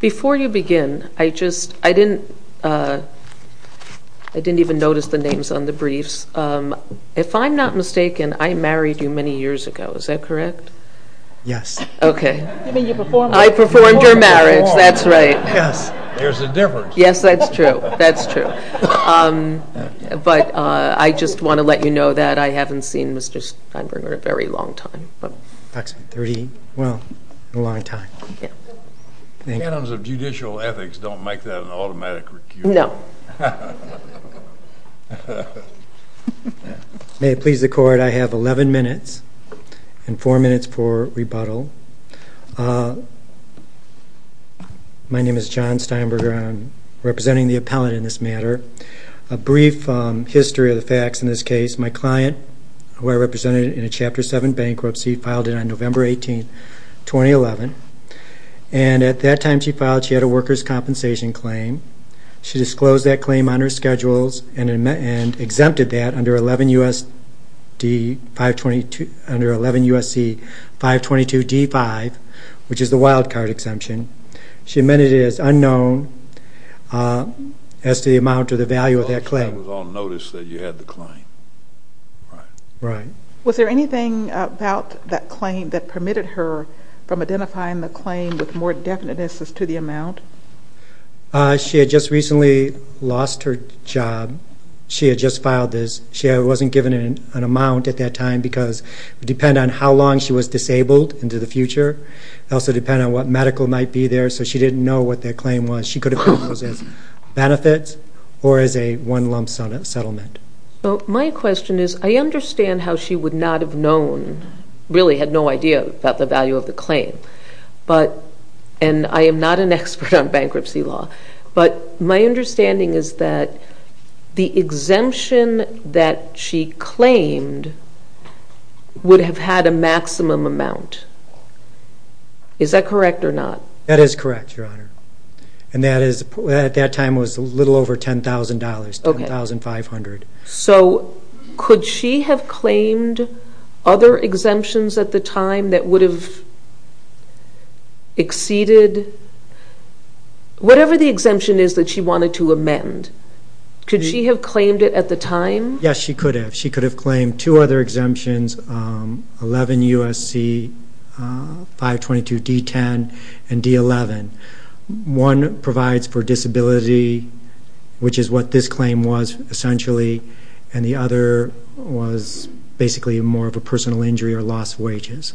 Before you begin, I didn't even notice the names on the briefs. If I'm not mistaken, I married you many years ago, is that correct? Yes. I performed your marriage, that's right. There's a difference. Yes, that's true, that's true. But I just want to let you know that I haven't seen Mr. Steinbruner in a very long time. In a long time. Canons of judicial ethics don't make that an automatic recusal. No. May it please the court, I have 11 minutes and four minutes for rebuttal. My name is John Steinbruner, I'm representing the appellate in this matter. A brief history of the facts in this case, my client, who I represented in a Chapter 7 bankruptcy, filed it on November 18, 2011. And at that time she filed, she had a workers' compensation claim. She disclosed that claim on her schedules and exempted that under 11 U.S.C. 522 D-5, which is the wildcard exemption. She amended it as unknown as to the amount or the value of that claim. I was on notice that you had the claim. Right. Was there anything about that claim that permitted her from identifying the claim with more definiteness as to the amount? She had just recently lost her job. She had just filed this. She wasn't given an amount at that time because it would depend on how long she was disabled into the future. It would also depend on what medical might be there. So she didn't know what that claim was. She could have found those as benefits or as a one-lump settlement. So my question is, I understand how she would not have really had no idea about the value of the claim. And I am not an expert on bankruptcy law. But my understanding is that the exemption that she claimed would have had a maximum amount. Is that correct or not? That is correct, Your Honor. And at that time it was a little over $10,000, $10,500. So could she have claimed other exemptions at the time that would have exceeded whatever the exemption is that she wanted to amend? Could she have claimed it at the time? Yes, she could have. She could have claimed two other exemptions, 11 U.S.C. 522 D-10 and D-11. One provides for disability and the other was basically more of a personal injury or lost wages.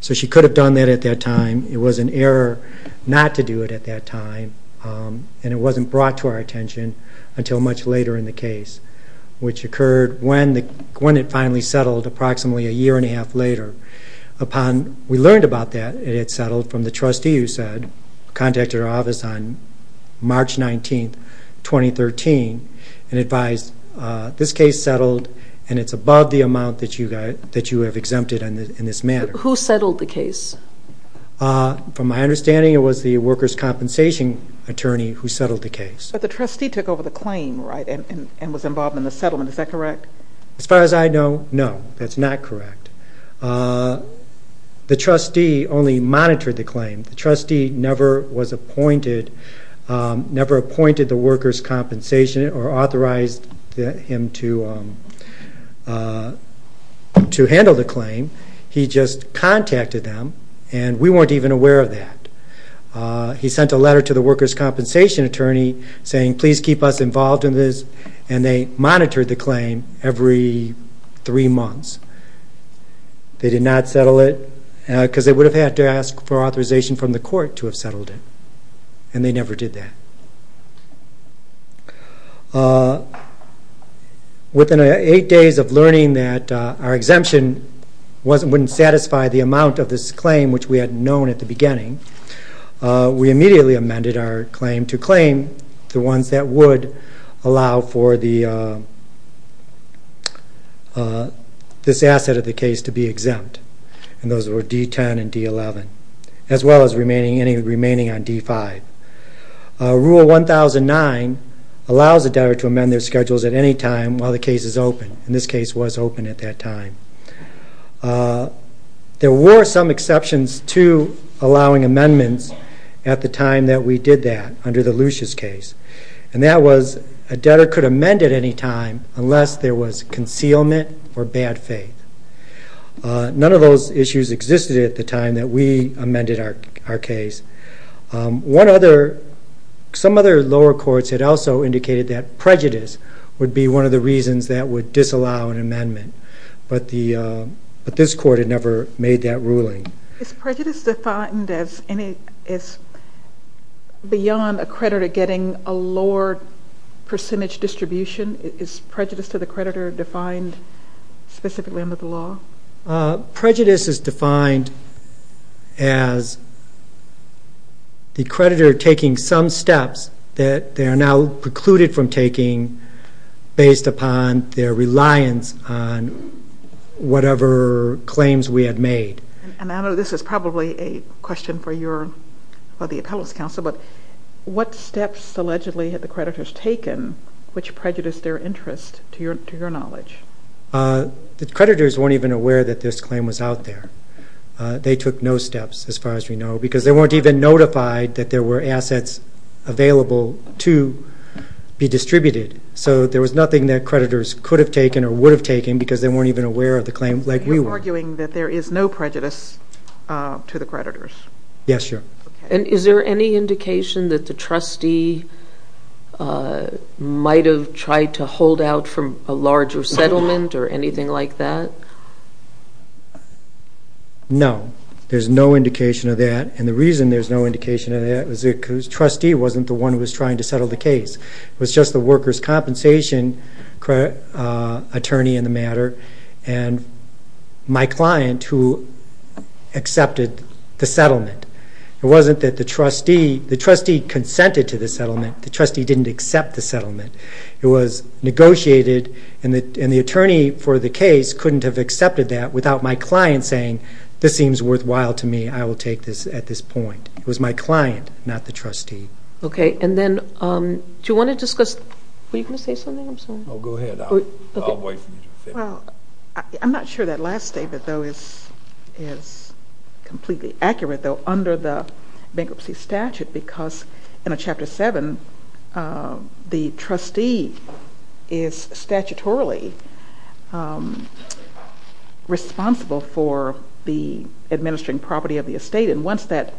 So she could have done that at that time. It was an error not to do it at that time. And it wasn't brought to our attention until much later in the case, which occurred when it finally settled approximately a year and a half later. We learned about that it had settled from the trustee who contacted our on May 17, 2013 and advised this case settled and it's above the amount that you have exempted in this manner. Who settled the case? From my understanding it was the workers' compensation attorney who settled the case. But the trustee took over the claim, right, and was involved in the settlement. Is that correct? As far as I know, no, that's not correct. The trustee only monitored the claim. The trustee never was appointed, never appointed the workers' compensation or authorized him to handle the claim. He just contacted them and we weren't even aware of that. He sent a letter to the workers' compensation attorney saying please keep us involved in this and they monitored the claim every three months. They did not settle it and they never did that. Within eight days of learning that our exemption wouldn't satisfy the amount of this claim, which we had known at the beginning, we immediately amended our claim to claim the ones that would allow for this asset of the case to be exempt. And those were D10 and D11, as well as remaining any on D5. Rule 1009 allows a debtor to amend their schedules at any time while the case is open. And this case was open at that time. There were some exceptions to allowing amendments at the time that we did that under the Lucia's case. And that was a debtor could amend at any time unless there was concealment or bad faith. None of those issues existed at the time that we amended our case. One other, some other lower courts had also indicated that prejudice would be one of the reasons that would disallow an amendment. But this court had never made that ruling. Is prejudice defined as beyond a creditor getting a lower percentage distribution? Is prejudice to the creditor defined specifically under the law? Prejudice is defined as the creditor taking some steps that they are now precluded from taking based upon their reliance on whatever claims we had made. And I know this is probably a question for your, for the knowledge. The creditors weren't even aware that this claim was out there. They took no steps as far as we know because they weren't even notified that there were assets available to be distributed. So there was nothing that creditors could have taken or would have taken because they weren't even aware of the claim like we were. You're arguing that there is no prejudice to the settlement or anything like that? No, there's no indication of that. And the reason there's no indication of that is because the trustee wasn't the one who was trying to settle the case. It was just the workers' compensation attorney in the matter and my client who accepted the settlement. It wasn't that the trustee, the trustee consented to the settlement. The trustee didn't accept the settlement and the attorney for the case couldn't have accepted that without my client saying, this seems worthwhile to me. I will take this at this point. It was my client, not the trustee. Okay, and then do you want to discuss, were you going to say something, I'm sorry? Oh, go ahead. I'll wait for you to finish. I'm not sure that last statement, though, is completely accurate, though, under the bankruptcy statute because in a Chapter 7, the trustee is statutorily responsible for the administering property of the estate and once that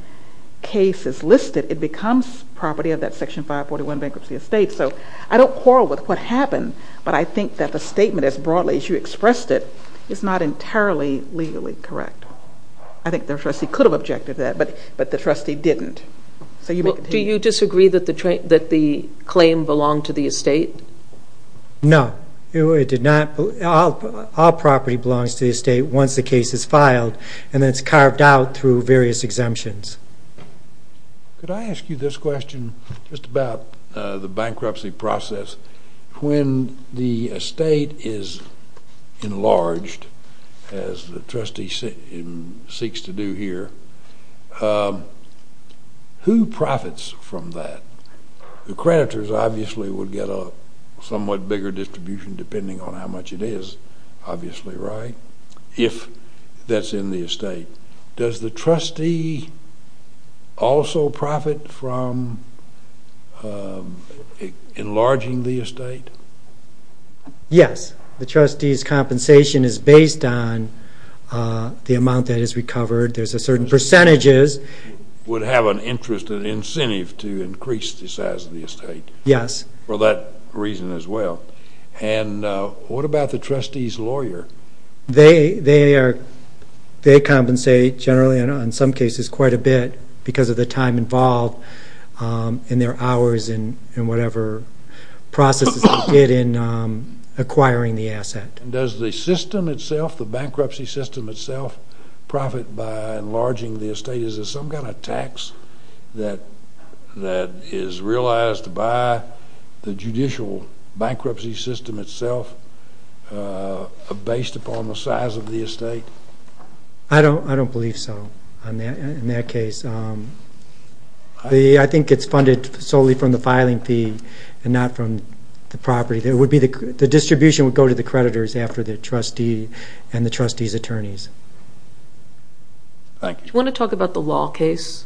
case is listed, it becomes property of that Section 541 bankruptcy estate. So I don't quarrel with what happened, but I think that the statement as Do you disagree that the claim belonged to the estate? No, it did not. All property belongs to the estate once the case is filed and it's carved out through various exemptions. Could I ask you this question just about the bankruptcy process? When the estate is enlarged, as the trustee seeks to do here, who profits from that? The creditors, obviously, would get a somewhat bigger distribution depending on how much it is, obviously, right, if that's in the estate. Does the trustee also profit from enlarging the estate? Yes, the trustee's compensation is based on the amount that is increased to certain percentages. Would have an interest, an incentive to increase the size of the estate? Yes. For that reason as well. And what about the trustee's lawyer? They compensate generally and in some cases quite a bit because of the time involved in their hours and whatever processes they did in Is there some kind of tax that is realized by the judicial bankruptcy system itself based upon the size of the estate? I don't believe so in that case. I think it's Do you want to talk about the law case?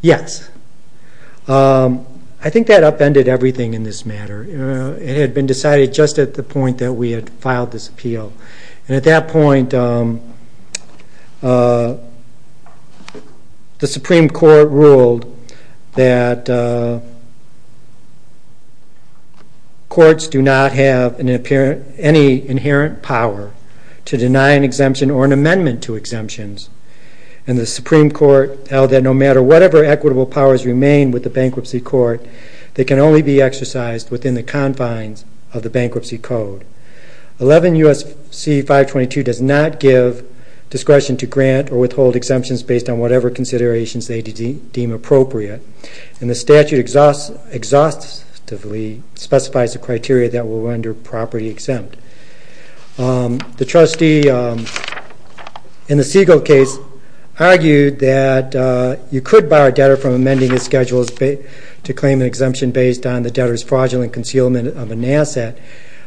Yes. I think that upended everything in this matter. It had been decided just at the point that we had filed this appeal and at that point the Supreme Court ruled that courts do not have any inherent power to deny an exemption or an amendment to exemptions. And the Supreme Court held that no matter whatever equitable powers remain with the bankruptcy court, they can only be exercised within the confines of the bankruptcy code. 11 U.S.C. 522 does not give discretion to grant or withhold exemptions based on whatever considerations they deem appropriate and the statute exhaustively specifies the criteria that will render property exempt. The trustee in the Siegel case argued that you could bar a debtor from amending his schedule to claim an exemption based on the debtor's fraudulent concealment of an asset.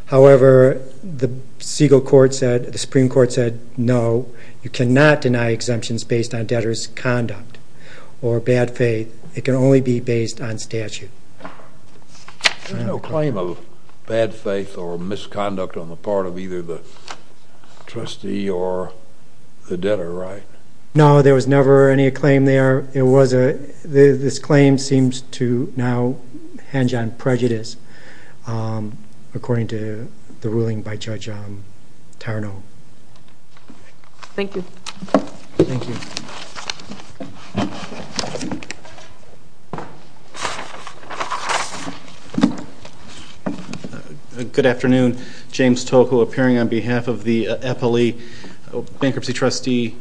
However, the Supreme Court said no, you cannot deny exemptions based on There was no claim of bad faith or misconduct on the part of either the trustee or the debtor, right? No, there was never any claim there. This claim seems to now hinge on Good afternoon. James Toku appearing on behalf of the FLE Bankruptcy Trustee,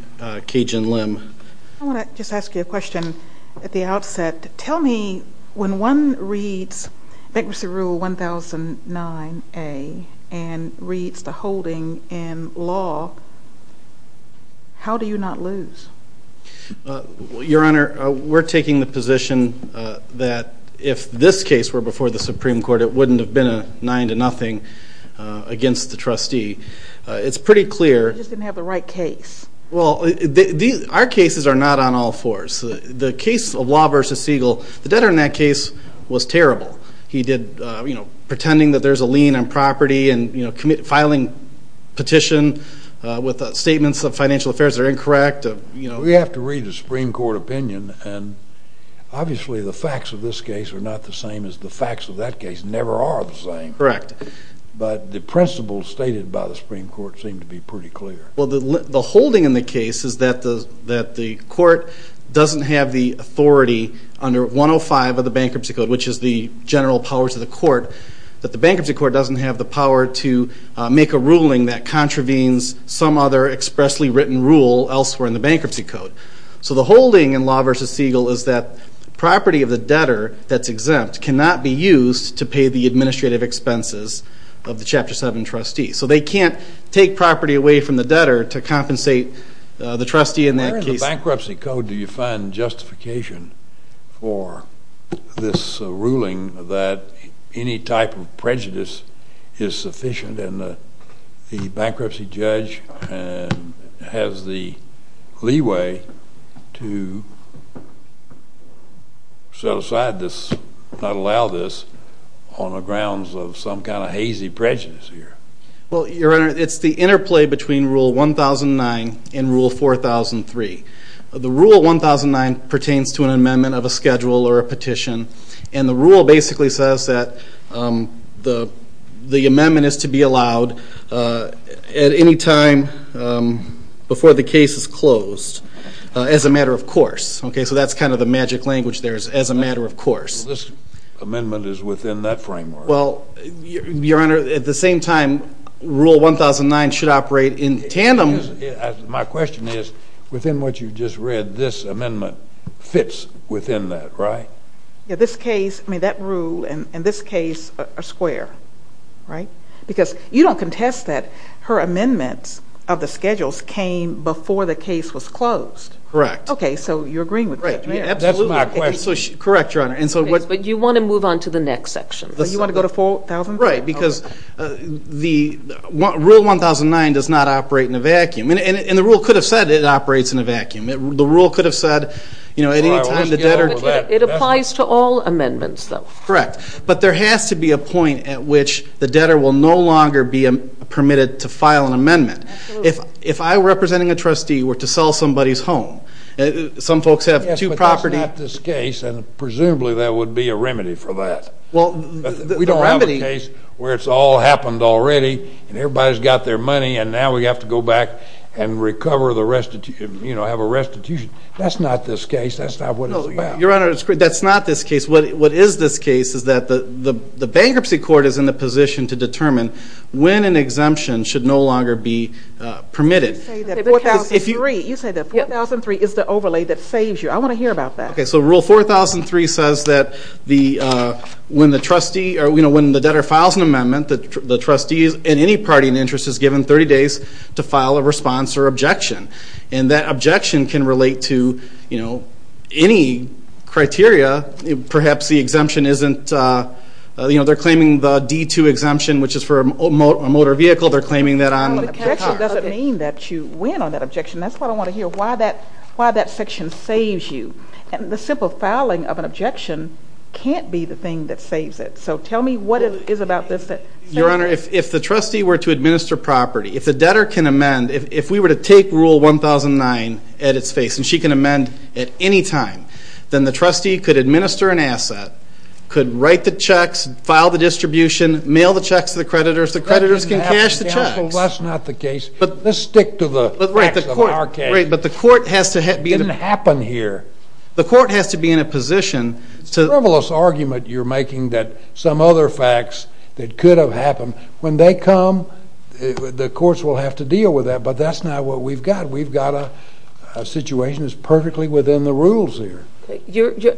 Cajun Lim. I want to just ask you a question at the outset. Tell me when one reads Bankruptcy Rule 1009A and reads the holding in law, how do you not lose? Your Honor, we're taking the position that if this case were before the Supreme Court, it wouldn't have been a 9-0 against the trustee. It's pretty clear... You just didn't have the right case. Well, our cases are not on all fours. The case of Law v. Siegel, the debtor in that case was terrible. He did, you know, pretending that there's a lien on property and filing petition with statements of financial affairs that are incorrect. We have to read the Supreme Court opinion, and obviously the facts of this case are not the same as the facts of that case, never are the same. But the principles stated by the Supreme Court seem to be pretty clear. Well, the holding in the case is that the court doesn't have the authority under 105 of the Bankruptcy Code, which is the general powers of the court, that the Bankruptcy Court doesn't have the power to make a ruling that contravenes some other expressly written rule elsewhere in the Bankruptcy Code. So the holding in Law v. Siegel is that property of the debtor that's exempt cannot be used to pay the administrative expenses of the Chapter 7 trustee. So they can't take property away from the debtor to compensate the trustee in that case. In the Bankruptcy Code, do you find justification for this ruling that any type of prejudice is sufficient and the bankruptcy judge has the leeway to set aside this, not allow this, on the grounds of some kind of hazy prejudice here? Well, Your Honor, it's the interplay between Rule 1009 and Rule 4003. The Rule 1009 pertains to an amendment of a schedule or a petition, and the rule basically says that the amendment is to be allowed at any time before the case is closed, as a matter of course. Okay, so that's kind of the magic language there is, as a matter of course. This amendment is within that framework. Well, Your Honor, at the same time, Rule 1009 should operate in tandem. My question is, within what you just read, this amendment fits within that, right? Yeah, this case, I mean, that rule and this case are square, right? Because you don't contest that her amendments of the schedules came before the case was closed. Correct. Okay, so you're agreeing with that, right? That's my question. Correct, Your Honor. But you want to move on to the next section. You want to go to 4000? Right, because Rule 1009 does not operate in a vacuum. And the rule could have said it operates in a vacuum. The rule could have said, you know, at any time the debtor... It applies to all amendments, though. Correct. But there has to be a point at which the debtor will no longer be permitted to file an amendment. Absolutely. If I, representing a trustee, were to sell somebody's home, some folks have two property... Well, we don't have a case where it's all happened already, and everybody's got their money, and now we have to go back and recover the restitution, you know, have a restitution. That's not this case. That's not what it's about. No, Your Honor, that's not this case. What is this case is that the bankruptcy court is in a position to determine when an exemption should no longer be permitted. You say that 4003 is the overlay that saves you. I want to hear about that. Okay, so Rule 4003 says that when the trustee or, you know, when the debtor files an amendment, the trustees and any party in interest is given 30 days to file a response or objection. And that objection can relate to, you know, any criteria. Perhaps the exemption isn't, you know, they're claiming the D-2 exemption, which is for a motor vehicle. They're claiming that on cars. It doesn't mean that you win on that objection. That's what I want to hear, why that section saves you. And the simple filing of an objection can't be the thing that saves it. So tell me what it is about this that saves you. Your Honor, if the trustee were to administer property, if the debtor can amend, if we were to take Rule 1009 at its face, and she can amend at any time, then the trustee could administer an asset, could write the checks, file the distribution, mail the checks to the creditors, the creditors can cash the checks. Well, that's not the case. Let's stick to the facts of our case. Right, but the court has to be... It didn't happen here. The court has to be in a position to... It's a frivolous argument you're making that some other facts that could have happened. When they come, the courts will have to deal with that, but that's not what we've got. We've got a situation that's perfectly within the rules here.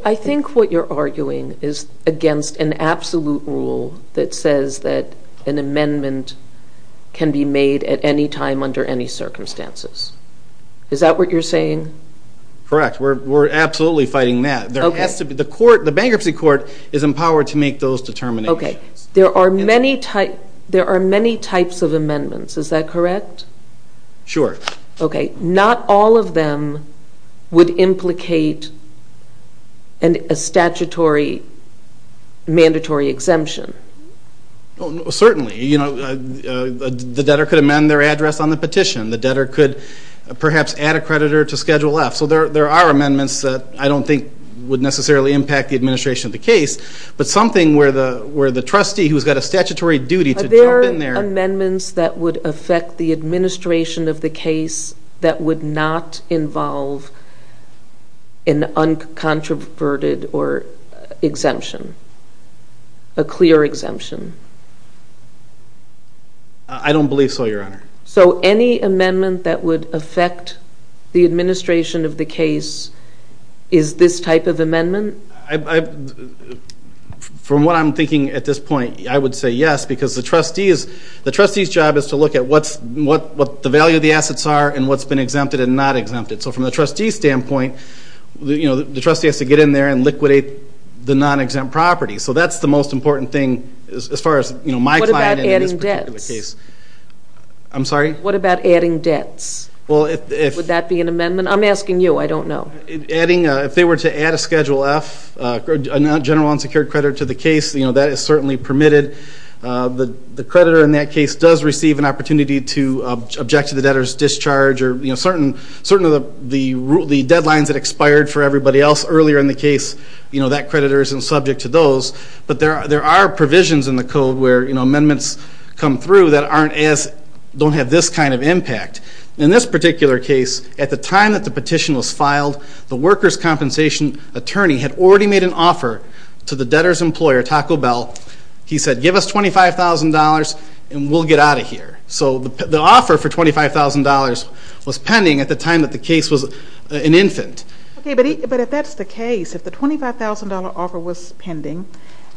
I think what you're arguing is against an absolute rule that says that an amendment can be made at any time under any circumstances. Is that what you're saying? Correct. We're absolutely fighting that. Okay. The bankruptcy court is empowered to make those determinations. Okay. There are many types of amendments. Is that correct? Sure. Okay. Not all of them would implicate a statutory mandatory exemption. Certainly. The debtor could amend their address on the petition. The debtor could perhaps add a creditor to Schedule F. So there are amendments that I don't think would necessarily impact the administration of the case, but something where the trustee who's got a statutory duty to jump in there... Any amendments that would affect the administration of the case that would not involve an uncontroverted exemption, a clear exemption? I don't believe so, Your Honor. So any amendment that would affect the administration of the case is this type of amendment? From what I'm thinking at this point, I would say yes, because the trustee's job is to look at what the value of the assets are and what's been exempted and not exempted. So from the trustee's standpoint, the trustee has to get in there and liquidate the non-exempt property. So that's the most important thing as far as my client in this particular case. What about adding debts? I'm sorry? What about adding debts? Would that be an amendment? I'm asking you. I don't know. If they were to add a Schedule F, a general unsecured credit, to the case, that is certainly permitted. The creditor in that case does receive an opportunity to object to the debtor's discharge or certain of the deadlines that expired for everybody else earlier in the case, that creditor isn't subject to those. But there are provisions in the code where amendments come through that don't have this kind of impact. In this particular case, at the time that the petition was filed, the workers' compensation attorney had already made an offer to the debtor's employer, Taco Bell. He said, give us $25,000 and we'll get out of here. So the offer for $25,000 was pending at the time that the case was an infant. But if that's the case, if the $25,000 offer was pending,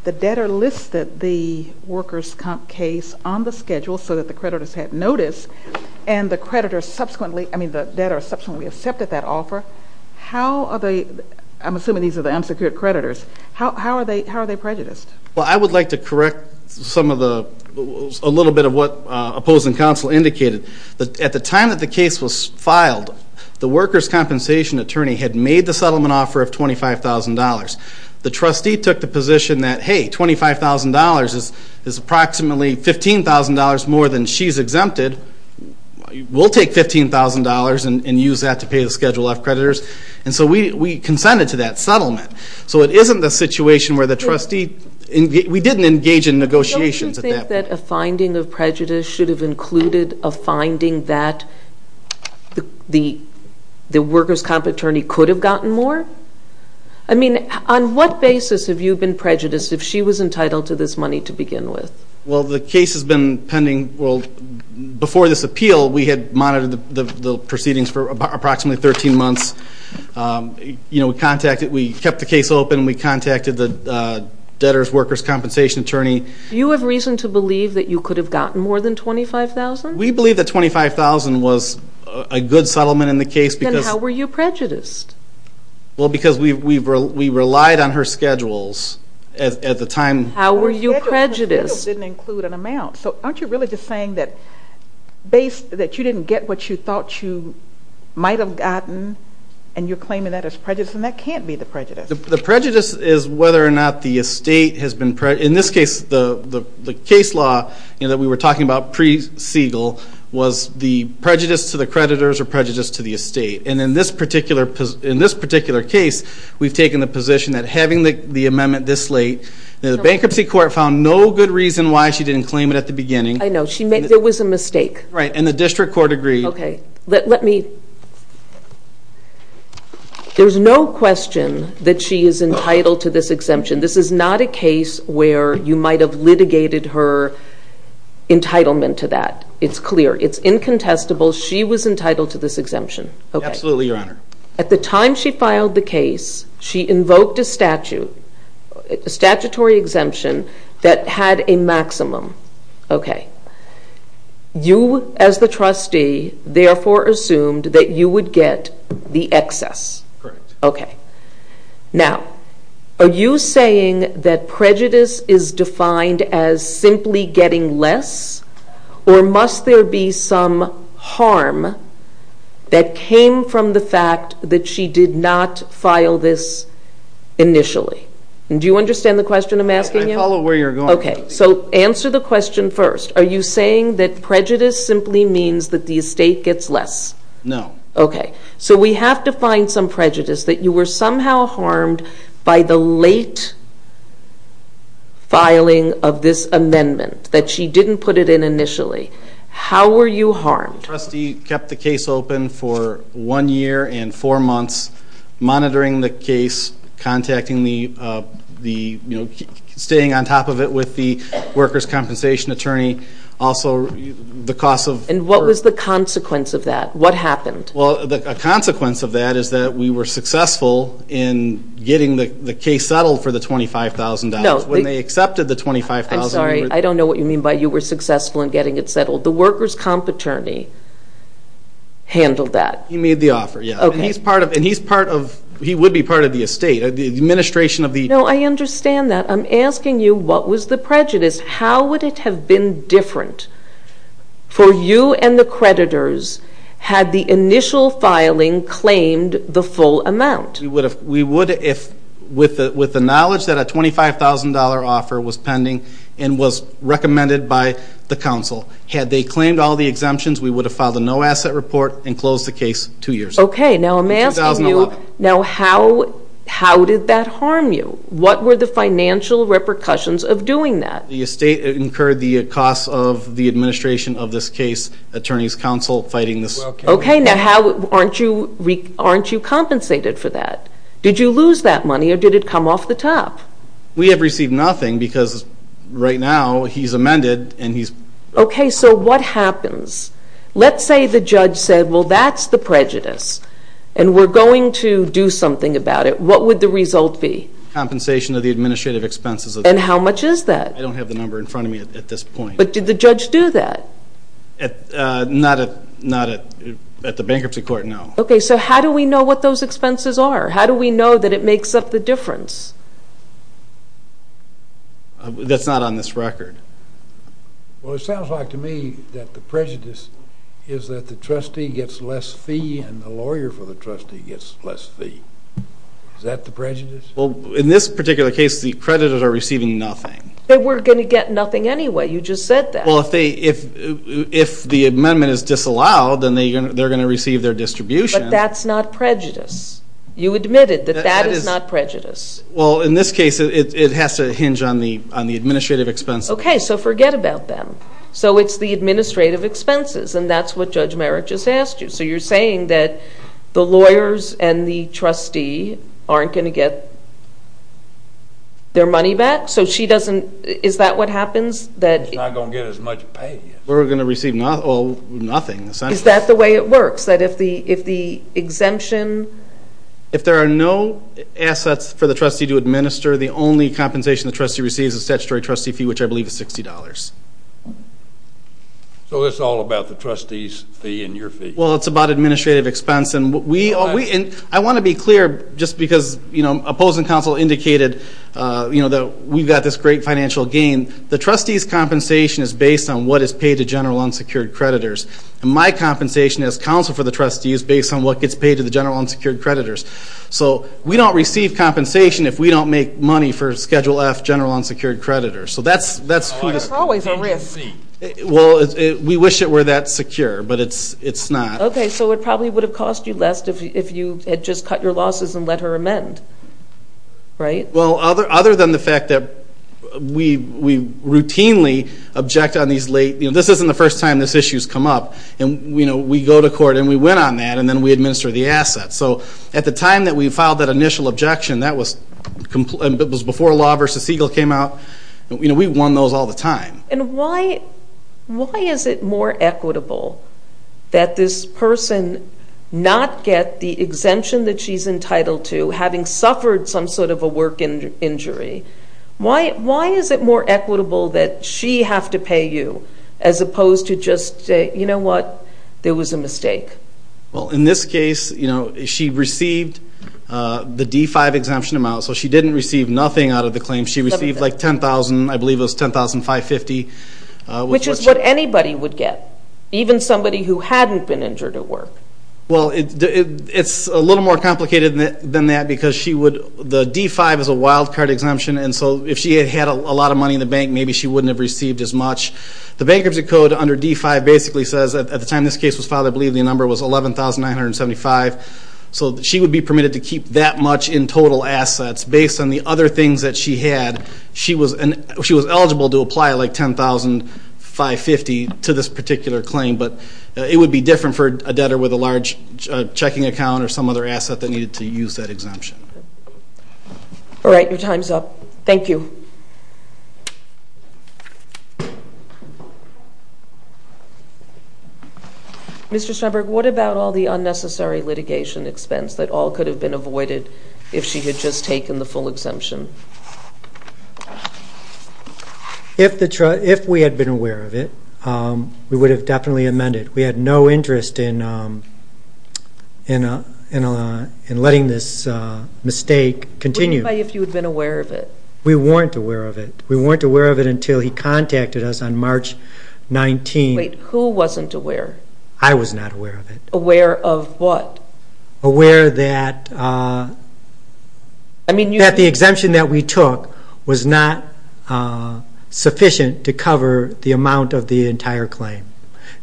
the debtor listed the workers' case on the schedule so that the creditors had notice, and the debtor subsequently accepted that offer, how are they, I'm assuming these are the unsecured creditors, how are they prejudiced? Well, I would like to correct a little bit of what opposing counsel indicated. At the time that the case was filed, the workers' compensation attorney had made the settlement offer of $25,000. The trustee took the position that, hey, $25,000 is approximately $15,000 more than she's exempted. We'll take $15,000 and use that to pay the Schedule F creditors. And so we consented to that settlement. So it isn't the situation where the trustee, we didn't engage in negotiations at that point. Don't you think that a finding of prejudice should have included a finding that the workers' compensation attorney could have gotten more? I mean, on what basis have you been prejudiced if she was entitled to this money to begin with? Well, the case has been pending. Well, before this appeal, we had monitored the proceedings for approximately 13 months. You know, we contacted, we kept the case open. We contacted the debtors' workers' compensation attorney. Do you have reason to believe that you could have gotten more than $25,000? We believe that $25,000 was a good settlement in the case. Then how were you prejudiced? Well, because we relied on her schedules at the time. How were you prejudiced? The Schedule didn't include an amount. So aren't you really just saying that you didn't get what you thought you might have gotten, and you're claiming that as prejudice, and that can't be the prejudice. The prejudice is whether or not the estate has been prejudiced. In this case, the case law that we were talking about pre-Segal was the prejudice to the creditors or prejudice to the estate. And in this particular case, we've taken the position that having the amendment this late, the bankruptcy court found no good reason why she didn't claim it at the beginning. I know. There was a mistake. Right. And the district court agreed. Okay. Let me. There's no question that she is entitled to this exemption. This is not a case where you might have litigated her entitlement to that. It's clear. It's incontestable. She was entitled to this exemption. Absolutely, Your Honor. At the time she filed the case, she invoked a statutory exemption that had a maximum. Okay. You, as the trustee, therefore assumed that you would get the excess. Correct. Okay. Now, are you saying that prejudice is defined as simply getting less, or must there be some harm that came from the fact that she did not file this initially? Do you understand the question I'm asking you? I follow where you're going. Okay. So answer the question first. Are you saying that prejudice simply means that the estate gets less? No. Okay. So we have to find some prejudice, that you were somehow harmed by the late filing of this amendment, that she didn't put it in initially. How were you harmed? The trustee kept the case open for one year and four months, monitoring the case, contacting the, you know, staying on top of it with the workers' compensation attorney. Also, the cost of... What was the consequence of that? What happened? Well, the consequence of that is that we were successful in getting the case settled for the $25,000. No. When they accepted the $25,000... I'm sorry. I don't know what you mean by you were successful in getting it settled. The workers' comp attorney handled that. He made the offer, yeah. Okay. And he's part of... He would be part of the estate. The administration of the... No, I understand that. I'm asking you what was the prejudice. How would it have been different for you and the creditors had the initial filing claimed the full amount? We would have... With the knowledge that a $25,000 offer was pending and was recommended by the council, had they claimed all the exemptions, we would have filed a no-asset report and closed the case two years. Okay. Now, I'm asking you... 2011. Now, how did that harm you? What were the financial repercussions of doing that? The estate incurred the costs of the administration of this case, attorneys' council fighting this... Okay. Now, aren't you compensated for that? Did you lose that money or did it come off the top? We have received nothing because right now he's amended and he's... Okay. So what happens? Let's say the judge said, well, that's the prejudice and we're going to do something about it. What would the result be? Compensation of the administrative expenses. And how much is that? I don't have the number in front of me at this point. But did the judge do that? Not at the bankruptcy court, no. Okay. So how do we know what those expenses are? How do we know that it makes up the difference? That's not on this record. Well, it sounds like to me that the prejudice is that the trustee gets less fee and the lawyer for the trustee gets less fee. Is that the prejudice? Well, in this particular case, the creditors are receiving nothing. They were going to get nothing anyway. You just said that. Well, if the amendment is disallowed, then they're going to receive their distribution. But that's not prejudice. You admitted that that is not prejudice. Well, in this case, it has to hinge on the administrative expenses. Okay. So forget about them. So it's the administrative expenses, and that's what Judge Merrick just asked you. So you're saying that the lawyers and the trustee aren't going to get their money back? So she doesn't – is that what happens? She's not going to get as much pay. We're going to receive nothing. Is that the way it works? That if the exemption – If there are no assets for the trustee to administer, the only compensation the trustee receives is statutory trustee fee, which I believe is $60. So it's all about the trustee's fee and your fee. Well, it's about administrative expense. And I want to be clear, just because opposing counsel indicated that we've got this great financial gain. The trustee's compensation is based on what is paid to general unsecured creditors. And my compensation as counsel for the trustee is based on what gets paid to the general unsecured creditors. So we don't receive compensation if we don't make money for Schedule F general unsecured creditors. So that's – That's always a risk. Well, we wish it were that secure, but it's not. Okay. So it probably would have cost you less if you had just cut your losses and let her amend, right? Well, other than the fact that we routinely object on these late – this isn't the first time this issue has come up. And, you know, we go to court and we win on that, and then we administer the assets. So at the time that we filed that initial objection, that was before Law v. Siegel came out. You know, we won those all the time. And why is it more equitable that this person not get the exemption that she's entitled to, having suffered some sort of a work injury? Why is it more equitable that she have to pay you as opposed to just, you know what, there was a mistake? Well, in this case, you know, she received the D-5 exemption amount, so she didn't receive nothing out of the claim. She received like $10,000, I believe it was $10,550. Which is what anybody would get, even somebody who hadn't been injured at work. Well, it's a little more complicated than that because she would – the D-5 is a wild card exemption, and so if she had had a lot of money in the bank, maybe she wouldn't have received as much. The Bankruptcy Code under D-5 basically says that at the time this case was filed, I believe the number was $11,975. So she would be permitted to keep that much in total assets based on the other things that she had. She was eligible to apply like $10,550 to this particular claim, but it would be different for a debtor with a large checking account or some other asset that needed to use that exemption. All right, your time's up. Thank you. Mr. Steinberg, what about all the unnecessary litigation expense that all could have been avoided if she had just taken the full exemption? If we had been aware of it, we would have definitely amended. We had no interest in letting this mistake continue. What about if you had been aware of it? We weren't aware of it. We weren't aware of it until he contacted us on March 19th. Wait, who wasn't aware? I was not aware of it. Aware of what? Aware that the exemption that we took was not sufficient to cover the amount of the entire claim.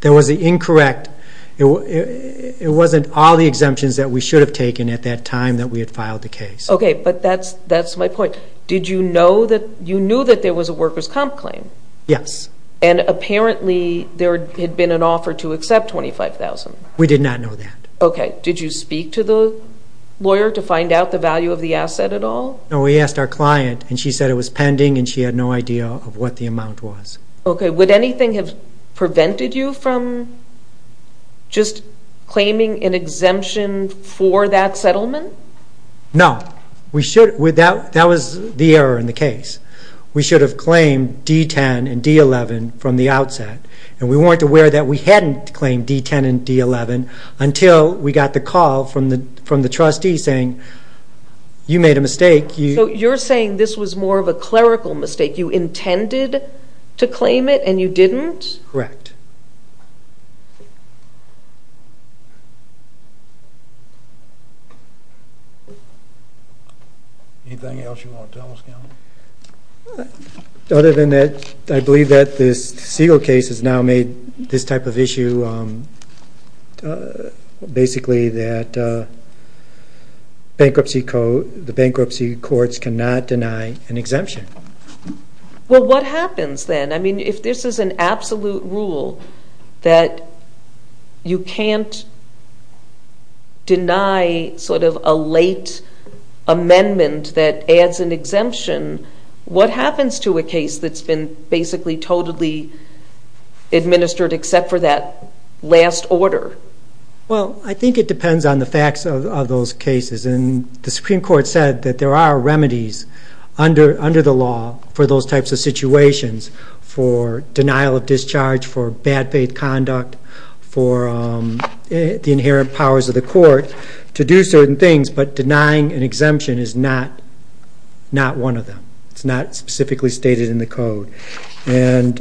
That was incorrect. It wasn't all the exemptions that we should have taken at that time that we had filed the case. Okay, but that's my point. Did you know that there was a workers' comp claim? Yes. And apparently there had been an offer to accept $25,000. We did not know that. Okay. Did you speak to the lawyer to find out the value of the asset at all? No, we asked our client, and she said it was pending, and she had no idea of what the amount was. Okay. Would anything have prevented you from just claiming an exemption for that settlement? No. That was the error in the case. We should have claimed D-10 and D-11 from the outset, and we weren't aware that we hadn't claimed D-10 and D-11 until we got the call from the trustee saying, you made a mistake. So you're saying this was more of a clerical mistake. You intended to claim it, and you didn't? Correct. Anything else you want to tell us? Other than that, I believe that this Siegel case has now made this type of issue, basically that the bankruptcy courts cannot deny an exemption. Well, what happens then? I mean, if this is an absolute rule that you can't deny sort of a late amendment that adds an exemption, what happens to a case that's been basically totally administered except for that last order? Well, I think it depends on the facts of those cases, and the Supreme Court said that there are remedies under the law for those types of situations, for denial of discharge, for bad faith conduct, for the inherent powers of the court to do certain things, but denying an exemption is not one of them. It's not specifically stated in the code. And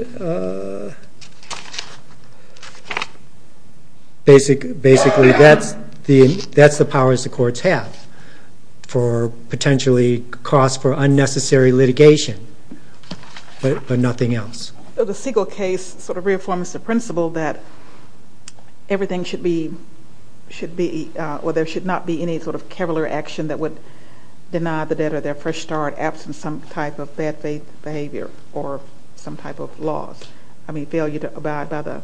basically that's the powers the courts have for potentially costs for unnecessary litigation, but nothing else. So the Siegel case sort of reaffirms the principle that everything should be, or there should not be any sort of careless action that would deny the debtor their fresh start, absent some type of bad faith behavior or some type of loss, I mean failure to abide by the?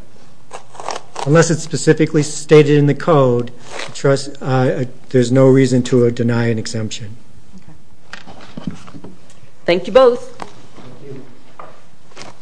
Unless it's specifically stated in the code, there's no reason to deny an exemption. Okay. Thank you both. Thank you.